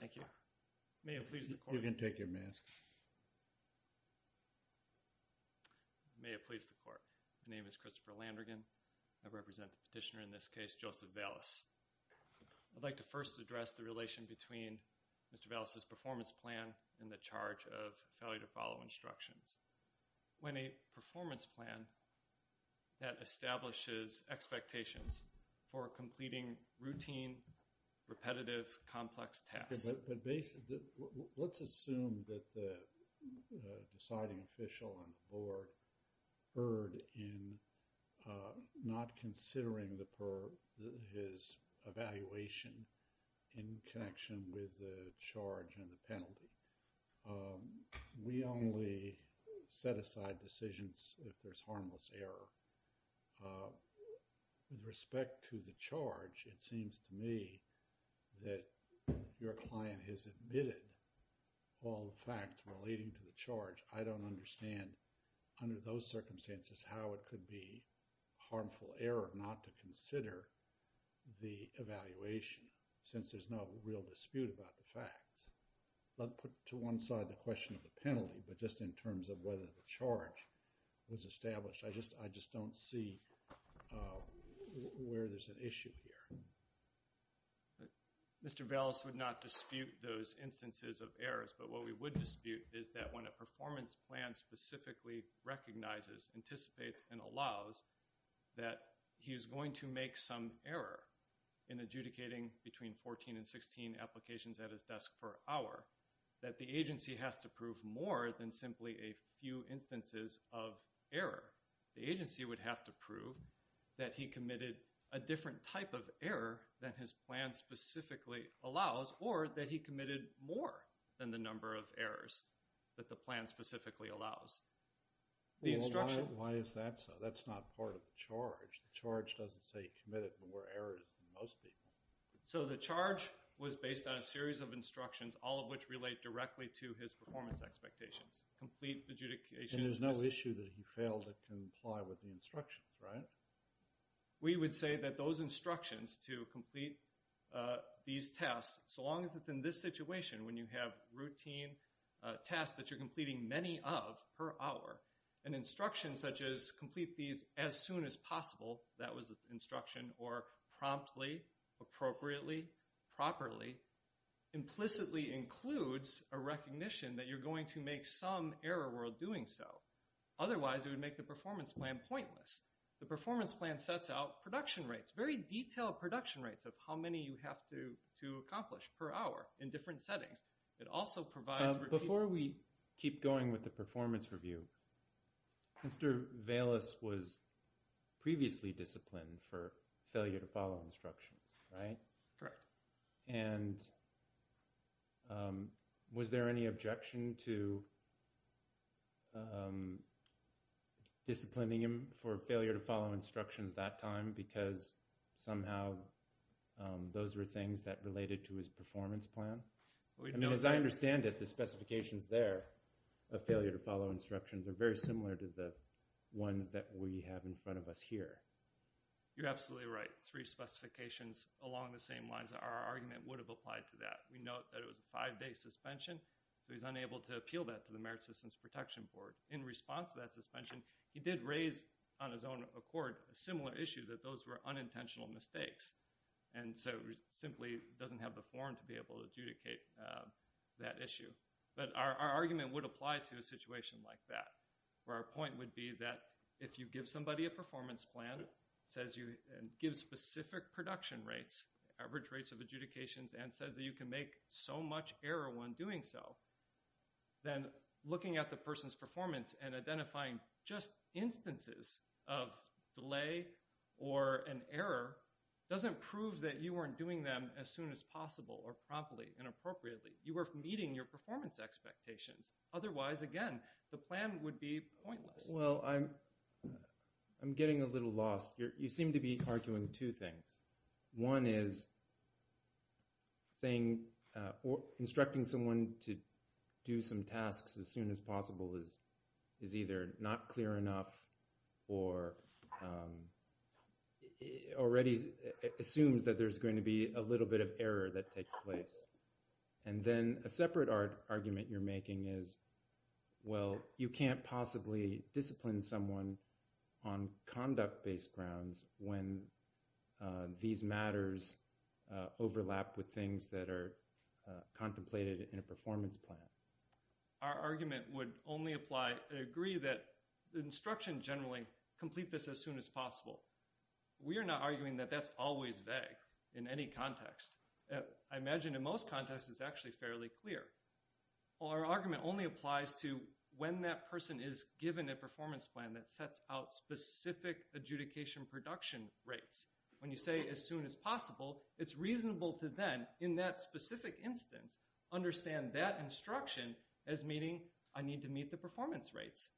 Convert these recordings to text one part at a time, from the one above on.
Thank you. May it please the Court. You can take your mask. May it please the Court. My name is Christopher Landrigan. I represent the petitioner in this case, Joseph Valles. I'd like to first address the relation between Mr. Valles' performance plan and the charge of failure to follow instructions. When a performance plan that establishes expectations for completing routine, repetitive, complex tasks. Let's assume that the deciding official on the board erred in not considering his evaluation in connection with the charge and the penalty. We only set aside decisions if there's harmless error. With respect to the charge, it seems to me that your client has admitted all the facts relating to the charge. I don't understand under those circumstances how it could be harmful error not to consider the evaluation since there's no real dispute about the facts. Let's put to one side the question of the penalty, but just in terms of whether the charge was established. I just don't see where there's an issue here. Mr. Valles would not dispute those instances of errors, but what we would dispute is that when a performance plan specifically recognizes, anticipates, and allows that he is going to make some error in adjudicating between 14 and 16 applications at his desk per hour, that the agency has to prove more than simply a few instances of error. The agency would have to prove that he committed a different type of error than his plan specifically allows or that he committed more than the number of errors that the plan specifically allows. Why is that so? That's not part of the charge. The charge doesn't say he committed more errors than most people. So the charge was based on a series of instructions, all of which relate directly to his performance expectations. Complete adjudication. And there's no issue that he failed to comply with the instructions, right? We would say that those instructions to complete these tasks, so long as it's in this situation, when you have routine tasks that you're completing many of per hour, an instruction such as complete these as soon as possible, that was the instruction, or promptly, appropriately, properly, implicitly includes a recognition that you're going to make some error while doing so. Otherwise, it would make the performance plan pointless. The performance plan sets out production rates, very detailed production rates of how many you have to accomplish per hour in different settings. Before we keep going with the performance review, Mr. Valis was previously disciplined for failure to follow instructions, right? Correct. And was there any objection to disciplining him for failure to follow instructions that time because somehow those were things that related to his performance plan? As I understand it, the specifications there of failure to follow instructions are very similar to the ones that we have in front of us here. You're absolutely right. Three specifications along the same lines. Our argument would have applied to that. We note that it was a five-day suspension, so he's unable to appeal that to the Merit Systems Protection Board. In response to that suspension, he did raise on his own accord a similar issue, that those were unintentional mistakes. And so he simply doesn't have the form to be able to adjudicate that issue. But our argument would apply to a situation like that, where our point would be that if you give somebody a performance plan, says you give specific production rates, average rates of adjudications, and says that you can make so much error when doing so, then looking at the person's performance and identifying just instances of delay or an error doesn't prove that you weren't doing them as soon as possible or promptly and appropriately. You were meeting your performance expectations. Otherwise, again, the plan would be pointless. Well, I'm getting a little lost. You seem to be arguing two things. One is instructing someone to do some tasks as soon as possible is either not clear enough or already assumes that there's going to be a little bit of error that takes place. And then a separate argument you're making is, well, you can't possibly discipline someone on conduct-based grounds when these matters overlap with things that are contemplated in a performance plan. Our argument would only apply, agree that the instruction generally, complete this as soon as possible. We are not arguing that that's always vague in any context. I imagine in most contexts it's actually fairly clear. Well, our argument only applies to when that person is given a performance plan that sets out specific adjudication production rates. When you say as soon as possible, it's reasonable to then, in that specific instance, understand that instruction as meaning I need to meet the performance rates,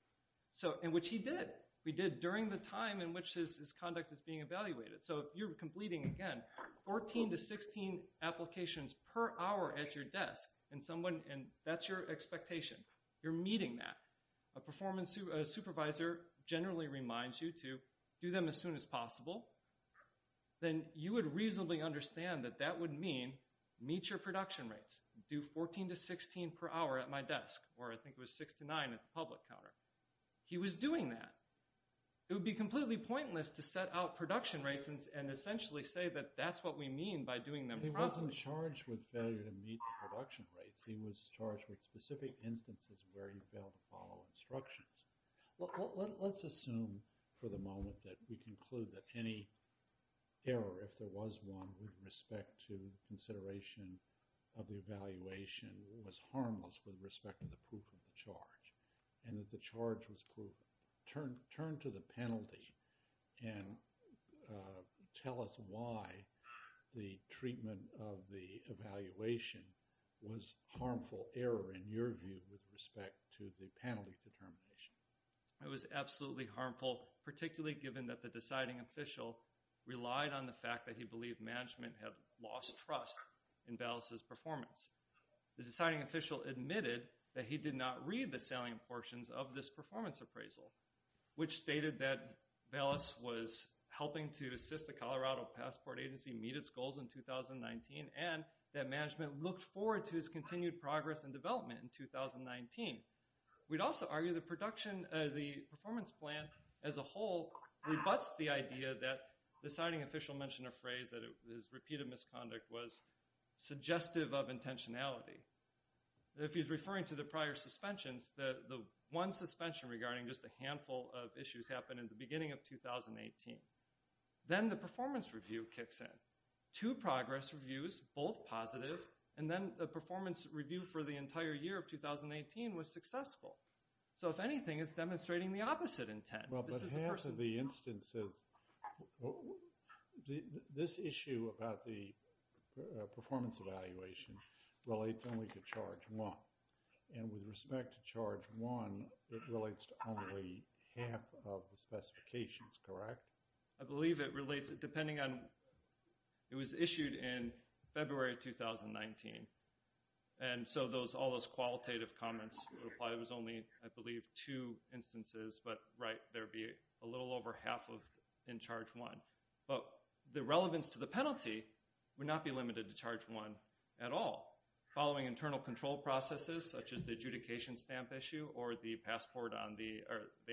in which he did. We did during the time in which his conduct is being evaluated. So you're completing, again, 14 to 16 applications per hour at your desk, and that's your expectation. You're meeting that. A supervisor generally reminds you to do them as soon as possible. Then you would reasonably understand that that would mean meet your production rates. Do 14 to 16 per hour at my desk, or I think it was 6 to 9 at the public counter. He was doing that. It would be completely pointless to set out production rates and essentially say that that's what we mean by doing them properly. He wasn't charged with failure to meet the production rates. He was charged with specific instances where he failed to follow instructions. Let's assume for the moment that we conclude that any error, if there was one, with respect to consideration of the evaluation was harmless with respect to the proof of the charge, and that the charge was proven. Turn to the penalty and tell us why the treatment of the evaluation was harmful error, in your view, with respect to the penalty determination. It was absolutely harmful, particularly given that the deciding official relied on the fact that he believed management had lost trust in Ballas' performance. The deciding official admitted that he did not read the salient portions of this performance appraisal, which stated that Ballas was helping to assist the Colorado Passport Agency meet its goals in 2019, and that management looked forward to his continued progress and development in 2019. We'd also argue the performance plan as a whole rebutts the idea that the deciding official mentioned a phrase that his repeated misconduct was suggestive of intentionality. If he's referring to the prior suspensions, the one suspension regarding just a handful of issues happened in the beginning of 2018. Then the performance review kicks in. Two progress reviews, both positive, and then a performance review for the entire year of 2018 was successful. So, if anything, it's demonstrating the opposite intent. But half of the instances, this issue about the performance evaluation relates only to charge one. And with respect to charge one, it relates to only half of the specifications, correct? I believe it relates, depending on, it was issued in February 2019. And so all those qualitative comments would apply. It was only, I believe, two instances. But, right, there would be a little over half in charge one. But the relevance to the penalty would not be limited to charge one at all. Following internal control processes, such as the adjudication stamp issue or the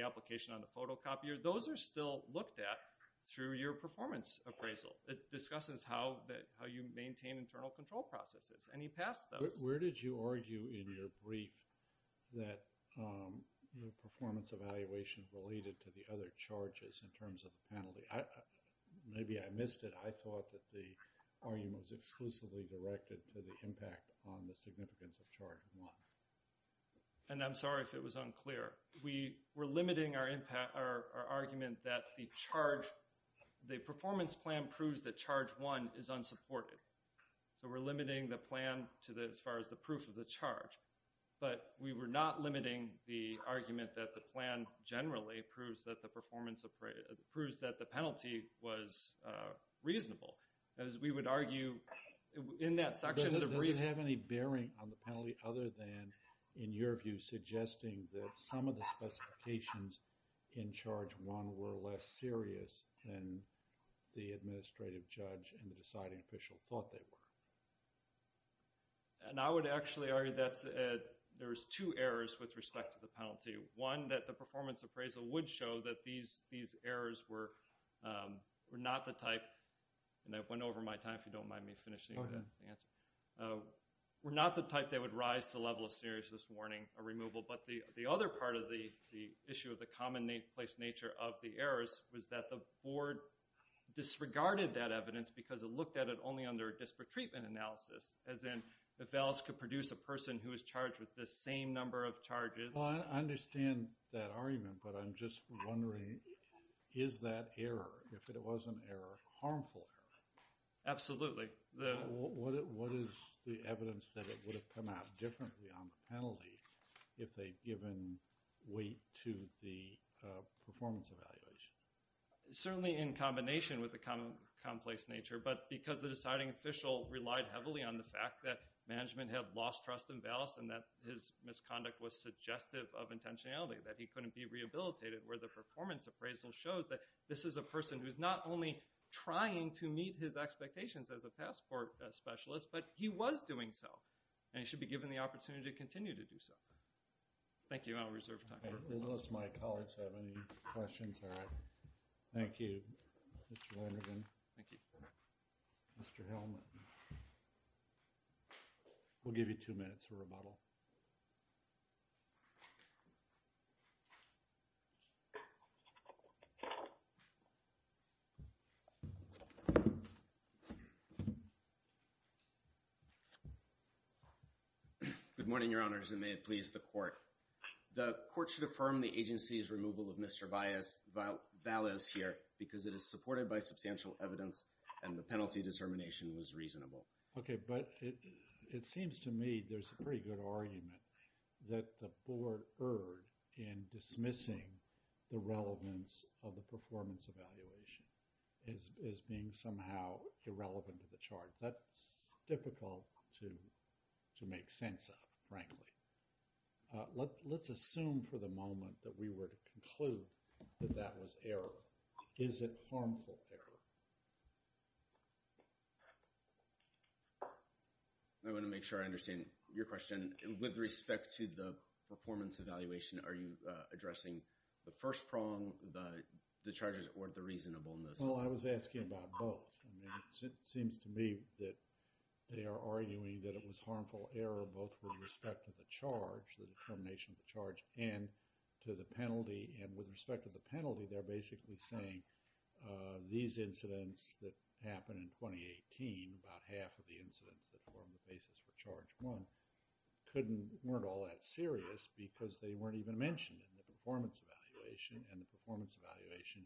application on the photocopier, those are still looked at through your performance appraisal. It discusses how you maintain internal control processes. Any past those? Where did you argue in your brief that the performance evaluation related to the other charges in terms of the penalty? Maybe I missed it. I thought that the argument was exclusively directed to the impact on the significance of charge one. And I'm sorry if it was unclear. We're limiting our argument that the performance plan proves that charge one is unsupported. So we're limiting the plan as far as the proof of the charge. But we were not limiting the argument that the plan generally proves that the penalty was reasonable. As we would argue in that section of the brief. Does it have any bearing on the penalty other than, in your view, suggesting that some of the specifications in charge one were less serious than the administrative judge and the deciding official thought they were? And I would actually argue that there's two errors with respect to the penalty. One, that the performance appraisal would show that these errors were not the type. And I went over my time. If you don't mind me finishing the answer. Were not the type that would rise to level of seriousness warning or removal. But the other part of the issue of the commonplace nature of the errors was that the board disregarded that evidence because it looked at it only under a disparate treatment analysis. As in, if VALS could produce a person who was charged with the same number of charges. I understand that argument. But I'm just wondering, is that error? If it was an error, harmful error. Absolutely. What is the evidence that it would have come out differently on the penalty if they'd given weight to the performance evaluation? Certainly in combination with the commonplace nature. But because the deciding official relied heavily on the fact that management had lost trust in VALS and that his misconduct was suggestive of intentionality. That he couldn't be rehabilitated where the performance appraisal shows that this is a person who's not only trying to meet his expectations as a passport specialist. But he was doing so. And he should be given the opportunity to continue to do so. Thank you. I'll reserve time. Unless my colleagues have any questions. All right. Thank you. Thank you. Mr. Helmut. We'll give you two minutes for rebuttal. Good morning, your honors. And may it please the court. The court should affirm the agency's removal of Mr. VALS here because it is supported by substantial evidence and the penalty determination was reasonable. Okay. But it seems to me there's a pretty good argument that the board erred in dismissing the relevance of the performance evaluation as being somehow irrelevant to the charge. That's difficult to make sense of, frankly. Let's assume for the moment that we were to conclude that that was error. Is it harmful error? I want to make sure I understand your question. With respect to the performance evaluation, are you addressing the first prong, the charges, or the reasonableness? Well, I was asking about both. I mean, it seems to me that they are arguing that it was harmful error both with respect to the charge, the determination of the charge, and to the penalty. And with respect to the penalty, they're basically saying these incidents that happened in 2018, about half of the incidents that formed the basis for charge one, weren't all that serious because they weren't even mentioned in the performance evaluation. And the performance evaluation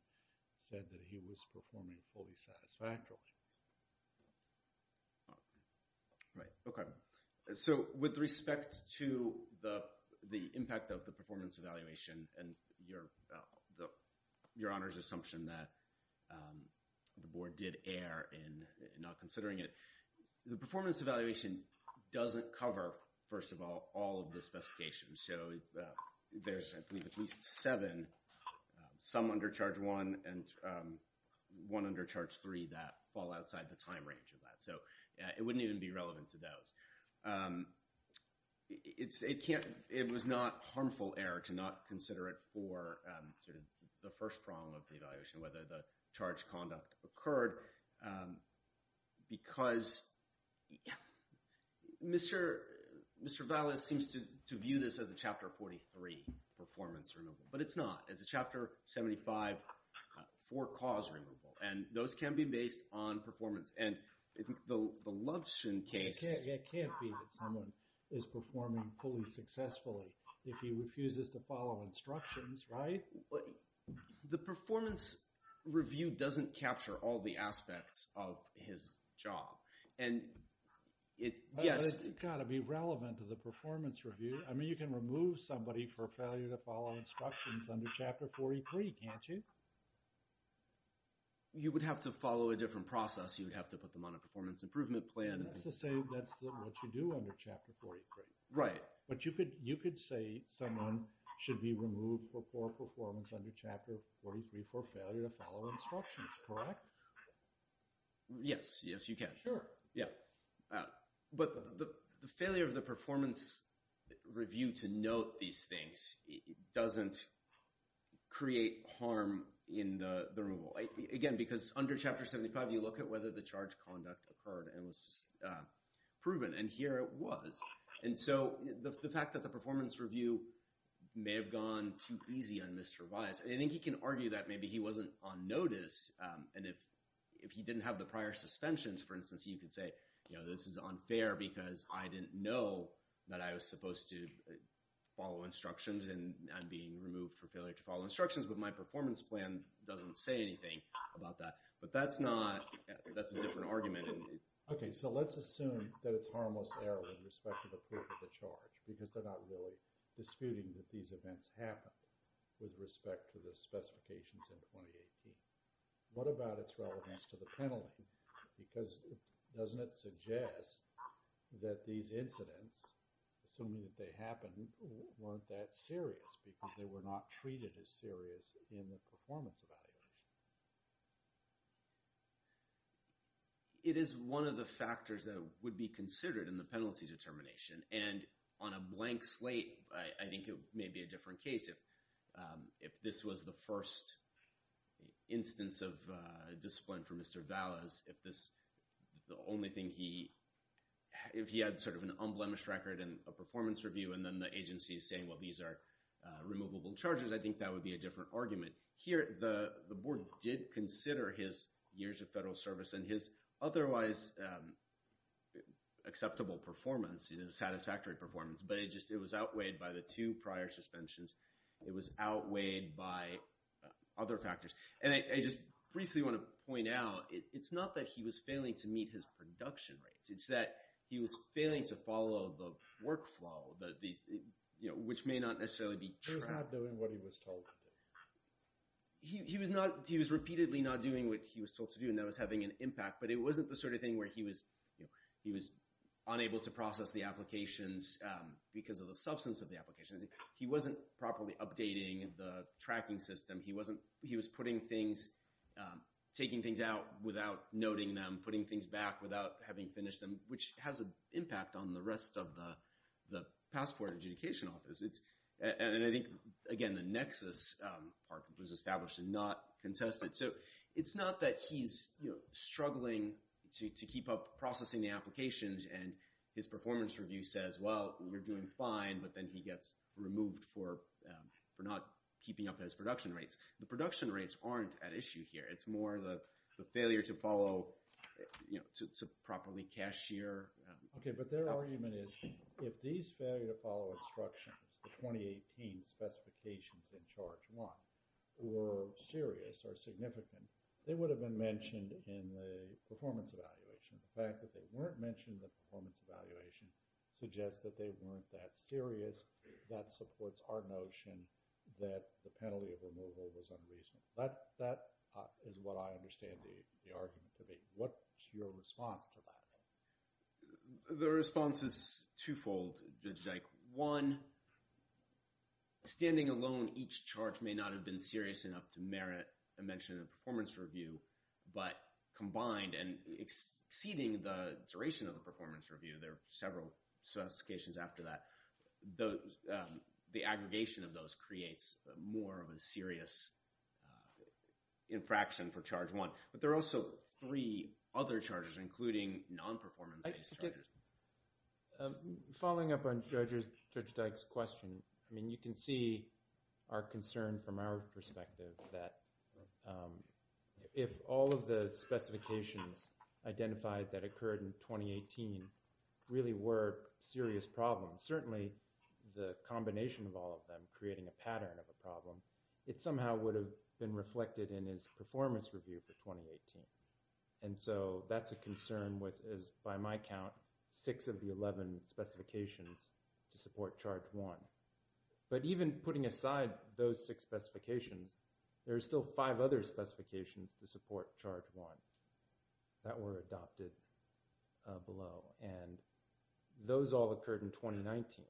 said that he was performing fully satisfactorily. Right. Okay. So with respect to the impact of the performance evaluation and your Honor's assumption that the board did err in not considering it, the performance evaluation doesn't cover, first of all, all of the specifications. So there's at least seven, some under charge one and one under charge three, that fall outside the time range of that. So it wouldn't even be relevant to those. It was not harmful error to not consider it for the first prong of the evaluation, whether the charge conduct occurred, because Mr. Valles seems to view this as a Chapter 43 performance removal, but it's not. It's a Chapter 75 for cause removal. And those can be based on performance. And the Lovshin case... It can't be that someone is performing fully successfully if he refuses to follow instructions, right? The performance review doesn't capture all the aspects of his job. It's got to be relevant to the performance review. I mean, you can remove somebody for failure to follow instructions under Chapter 43, can't you? You would have to follow a different process. You would have to put them on a performance improvement plan. That's to say that's what you do under Chapter 43. Right. But you could say someone should be removed for poor performance under Chapter 43 for failure to follow instructions, correct? Yes, yes, you can. Sure. Yeah. But the failure of the performance review to note these things doesn't create harm in the removal. Again, because under Chapter 75, you look at whether the charge conduct occurred and was proven, and here it was. And so the fact that the performance review may have gone too easy on Mr. Weiss. And I think he can argue that maybe he wasn't on notice. And if he didn't have the prior suspensions, for instance, you could say, you know, this is unfair because I didn't know that I was supposed to follow instructions and being removed for failure to follow instructions. But my performance plan doesn't say anything about that. But that's not – that's a different argument. Okay. So let's assume that it's harmless error with respect to the purpose of the charge because they're not really disputing that these events happened with respect to the specifications in 2018. What about its relevance to the penalty? Because doesn't it suggest that these incidents, assuming that they happened, weren't that serious because they were not treated as serious in the performance evaluation? It is one of the factors that would be considered in the penalty determination. And on a blank slate, I think it may be a different case. If this was the first instance of discipline for Mr. Valas, if this – the only thing he – if he had sort of an unblemished record in a performance review and then the agency is saying, well, these are removable charges, I think that would be a different argument. Here the board did consider his years of federal service and his otherwise acceptable performance, satisfactory performance. But it just – it was outweighed by the two prior suspensions. It was outweighed by other factors. And I just briefly want to point out it's not that he was failing to meet his production rates. It's that he was failing to follow the workflow, which may not necessarily be true. He was not doing what he was told to do. He was not – he was repeatedly not doing what he was told to do, and that was having an impact. But it wasn't the sort of thing where he was unable to process the applications because of the substance of the applications. He wasn't properly updating the tracking system. He wasn't – he was putting things – taking things out without noting them, putting things back without having finished them, which has an impact on the rest of the passport adjudication office. And I think, again, the nexus part was established and not contested. So it's not that he's struggling to keep up processing the applications and his performance review says, well, you're doing fine, but then he gets removed for not keeping up his production rates. The production rates aren't at issue here. It's more the failure to follow – to properly cashier. Okay, but their argument is if these failure to follow instructions, the 2018 specifications in Charge 1, were serious or significant, they would have been mentioned in the performance evaluation. The fact that they weren't mentioned in the performance evaluation suggests that they weren't that serious. That supports our notion that the penalty of removal was unreasonable. That is what I understand the argument to be. What's your response to that? The response is twofold, Judge Dike. One, standing alone, each charge may not have been serious enough to merit a mention in the performance review, but combined and exceeding the duration of the performance review – there are several specifications after that – the aggregation of those creates more of a serious infraction for Charge 1. But there are also three other charges, including non-performance-based charges. Following up on Judge Dike's question, I mean, you can see our concern from our perspective that if all of the specifications identified that occurred in 2018 really were serious problems, certainly the combination of all of them creating a pattern of a problem, it somehow would have been reflected in his performance review for 2018. And so that's a concern with, by my count, six of the 11 specifications to support Charge 1. But even putting aside those six specifications, there are still five other specifications to support Charge 1 that were adopted below, and those all occurred in 2019.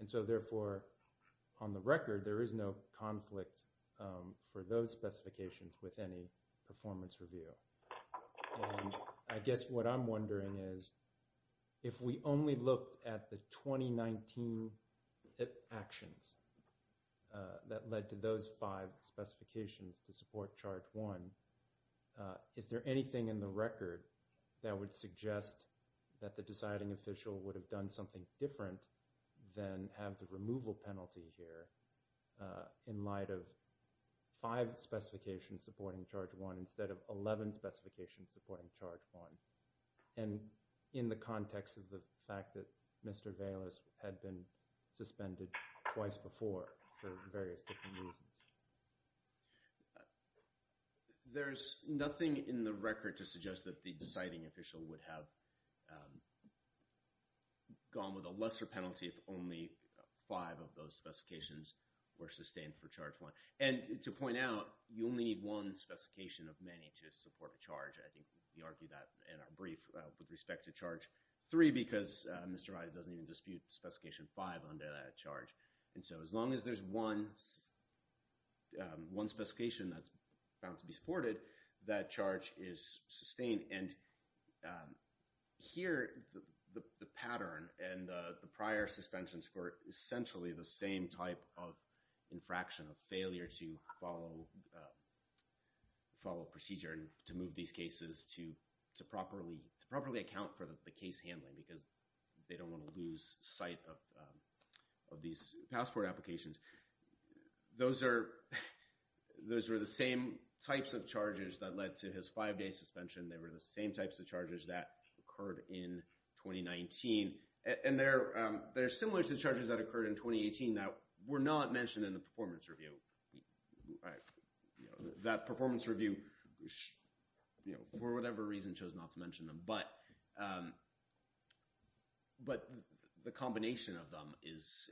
And so, therefore, on the record, there is no conflict for those specifications with any performance review. And I guess what I'm wondering is, if we only looked at the 2019 actions that led to those five specifications to support Charge 1, is there anything in the record that would suggest that the deciding official would have done something different than have the removal penalty here in light of five specifications supporting Charge 1 instead of 11 specifications supporting Charge 1? And in the context of the fact that Mr. Valis had been suspended twice before for various different reasons. There's nothing in the record to suggest that the deciding official would have gone with a lesser penalty if only five of those specifications were sustained for Charge 1. And to point out, you only need one specification of many to support a charge. I think we argued that in our brief with respect to Charge 3, because Mr. Valis doesn't even dispute Specification 5 under that charge. And so as long as there's one specification that's found to be supported, that charge is sustained. And here, the pattern and the prior suspensions were essentially the same type of infraction, a failure to follow procedure and to move these cases to properly account for the case handling because they don't want to lose sight of these passport applications. Those were the same types of charges that led to his five-day suspension. They were the same types of charges that occurred in 2019. And they're similar to the charges that occurred in 2018 that were not mentioned in the performance review. That performance review, for whatever reason, chose not to mention them. But the combination of them is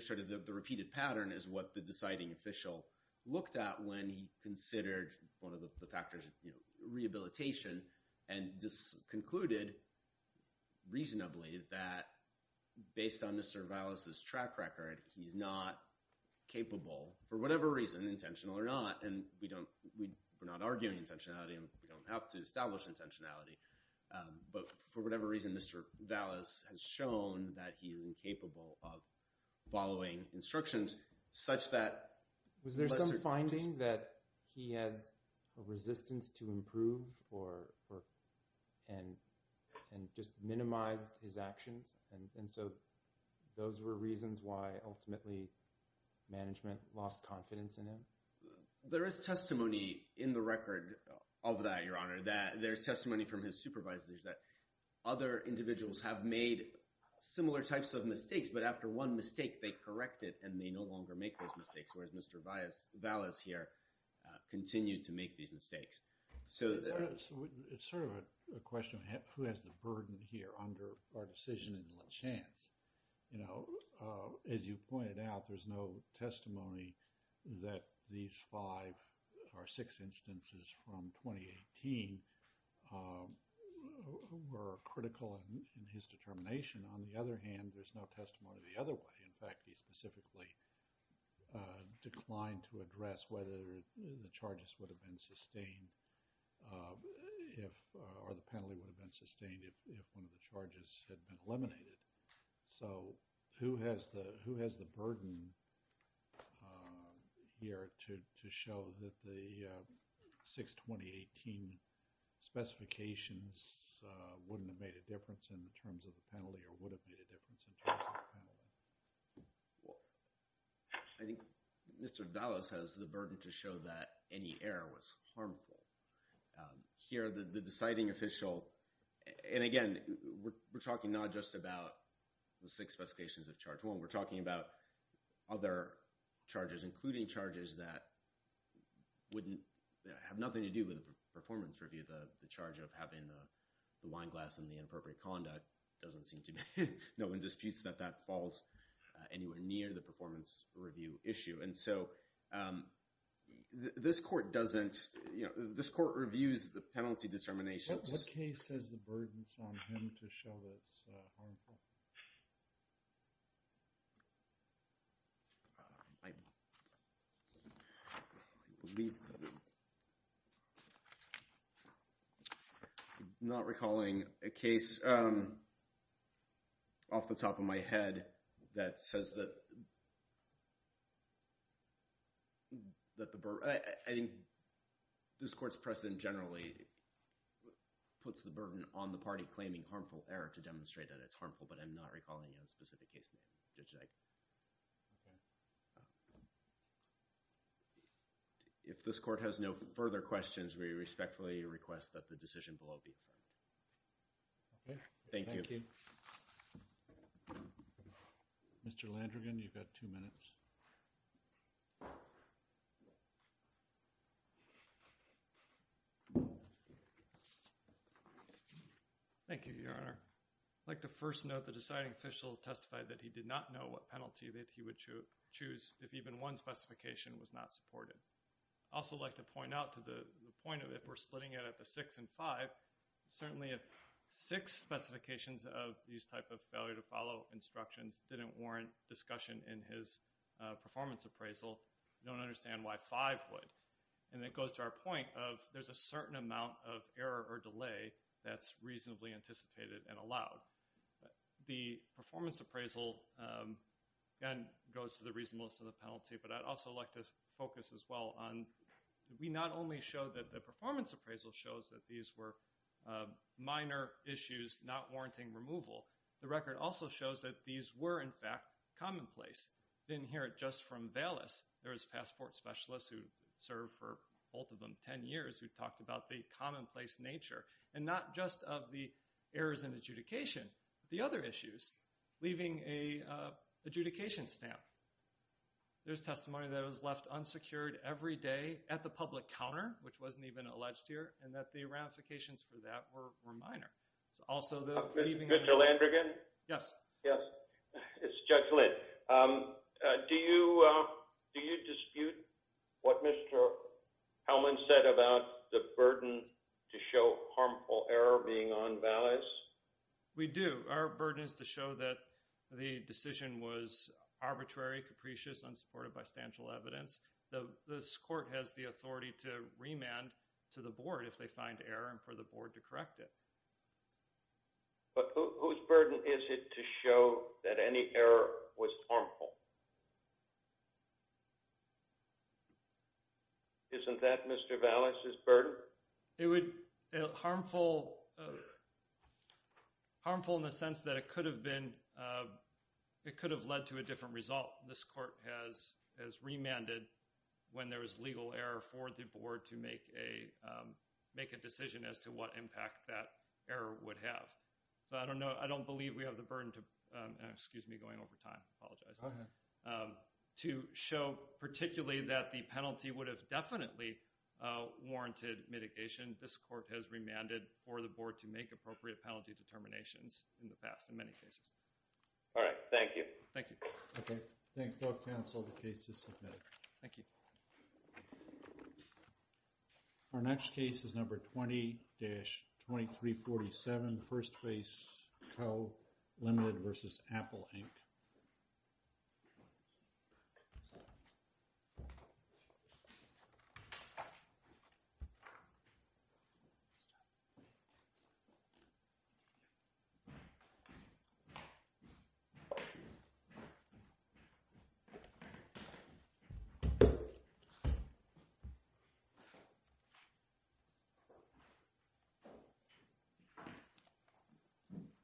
sort of the repeated pattern is what the deciding official looked at when he considered one of the factors, rehabilitation, and concluded reasonably that based on Mr. Valis' track record, he's not capable, for whatever reason, intentional or not, and we're not arguing intentionality and we don't have to establish intentionality, but for whatever reason, Mr. Valis has shown that he is incapable of following instructions such that— and just minimized his actions. And so those were reasons why, ultimately, management lost confidence in him. There is testimony in the record of that, Your Honor, that— there's testimony from his supervisors that other individuals have made similar types of mistakes, but after one mistake, they correct it and they no longer make those mistakes, So it's sort of a question of who has the burden here under our decision in La Chance. You know, as you pointed out, there's no testimony that these five or six instances from 2018 were critical in his determination. On the other hand, there's no testimony the other way. In fact, he specifically declined to address whether the charges would have been sustained or the penalty would have been sustained if one of the charges had been eliminated. So who has the burden here to show that the six 2018 specifications wouldn't have made a difference in terms of the penalty or would have made a difference in terms of the penalty? I think Mr. Valis has the burden to show that any error was harmful. Here, the deciding official—and again, we're talking not just about the six specifications of Charge 1. We're talking about other charges, including charges that wouldn't— the charge of having the wine glass and the inappropriate conduct doesn't seem to— no one disputes that that falls anywhere near the performance review issue. And so this court doesn't—this court reviews the penalty determinations. What case has the burdens on him to show that it's harmful? I'm not recalling a case off the top of my head that says that the— I think this court's precedent generally puts the burden on the party claiming harmful error to demonstrate that it's harmful, but I'm not recalling a specific case name. Okay. If this court has no further questions, we respectfully request that the decision below be affirmed. Okay. Thank you. Thank you. Mr. Landrigan, you've got two minutes. Thank you, Your Honor. I'd like to first note the deciding official testified that he did not know what penalty that he would choose if even one specification was not supported. I'd also like to point out to the point of if we're splitting it at the six and five, certainly if six specifications of these type of failure to follow instructions didn't warrant discussion in his performance appraisal, we don't understand why five would. And it goes to our point of there's a certain amount of error or delay that's reasonably anticipated and allowed. The performance appraisal, again, goes to the reasonableness of the penalty, but I'd also like to focus as well on we not only show that the performance appraisal shows that these were minor issues not warranting removal. The record also shows that these were, in fact, commonplace. You didn't hear it just from Valis. There was a passport specialist who served for both of them 10 years who talked about the commonplace nature and not just of the errors in adjudication, but the other issues, leaving an adjudication stamp. There's testimony that it was left unsecured every day at the public counter, which wasn't even alleged here, and that the ramifications for that were minor. Mr. Landrigan? Yes. It's Judge Lind. Do you dispute what Mr. Hellman said about the burden to show harmful error being on Valis? We do. Our burden is to show that the decision was arbitrary, capricious, unsupported by substantial evidence. This court has the authority to remand to the board if they find error and for the board to correct it. But whose burden is it to show that any error was harmful? Isn't that Mr. Valis' burden? Harmful in the sense that it could have led to a different result. This court has remanded when there is legal error for the board to make a decision as to what impact that error would have. So I don't believe we have the burden to show particularly that the penalty would have definitely warranted mitigation. This court has remanded for the board to make appropriate penalty determinations in the past in many cases. All right. Thank you. Thank you. Okay. Thank both counsel. The case is submitted. Thank you. Our next case is number 20-2347, First Base Co., Limited vs. Apple Inc. Thank you.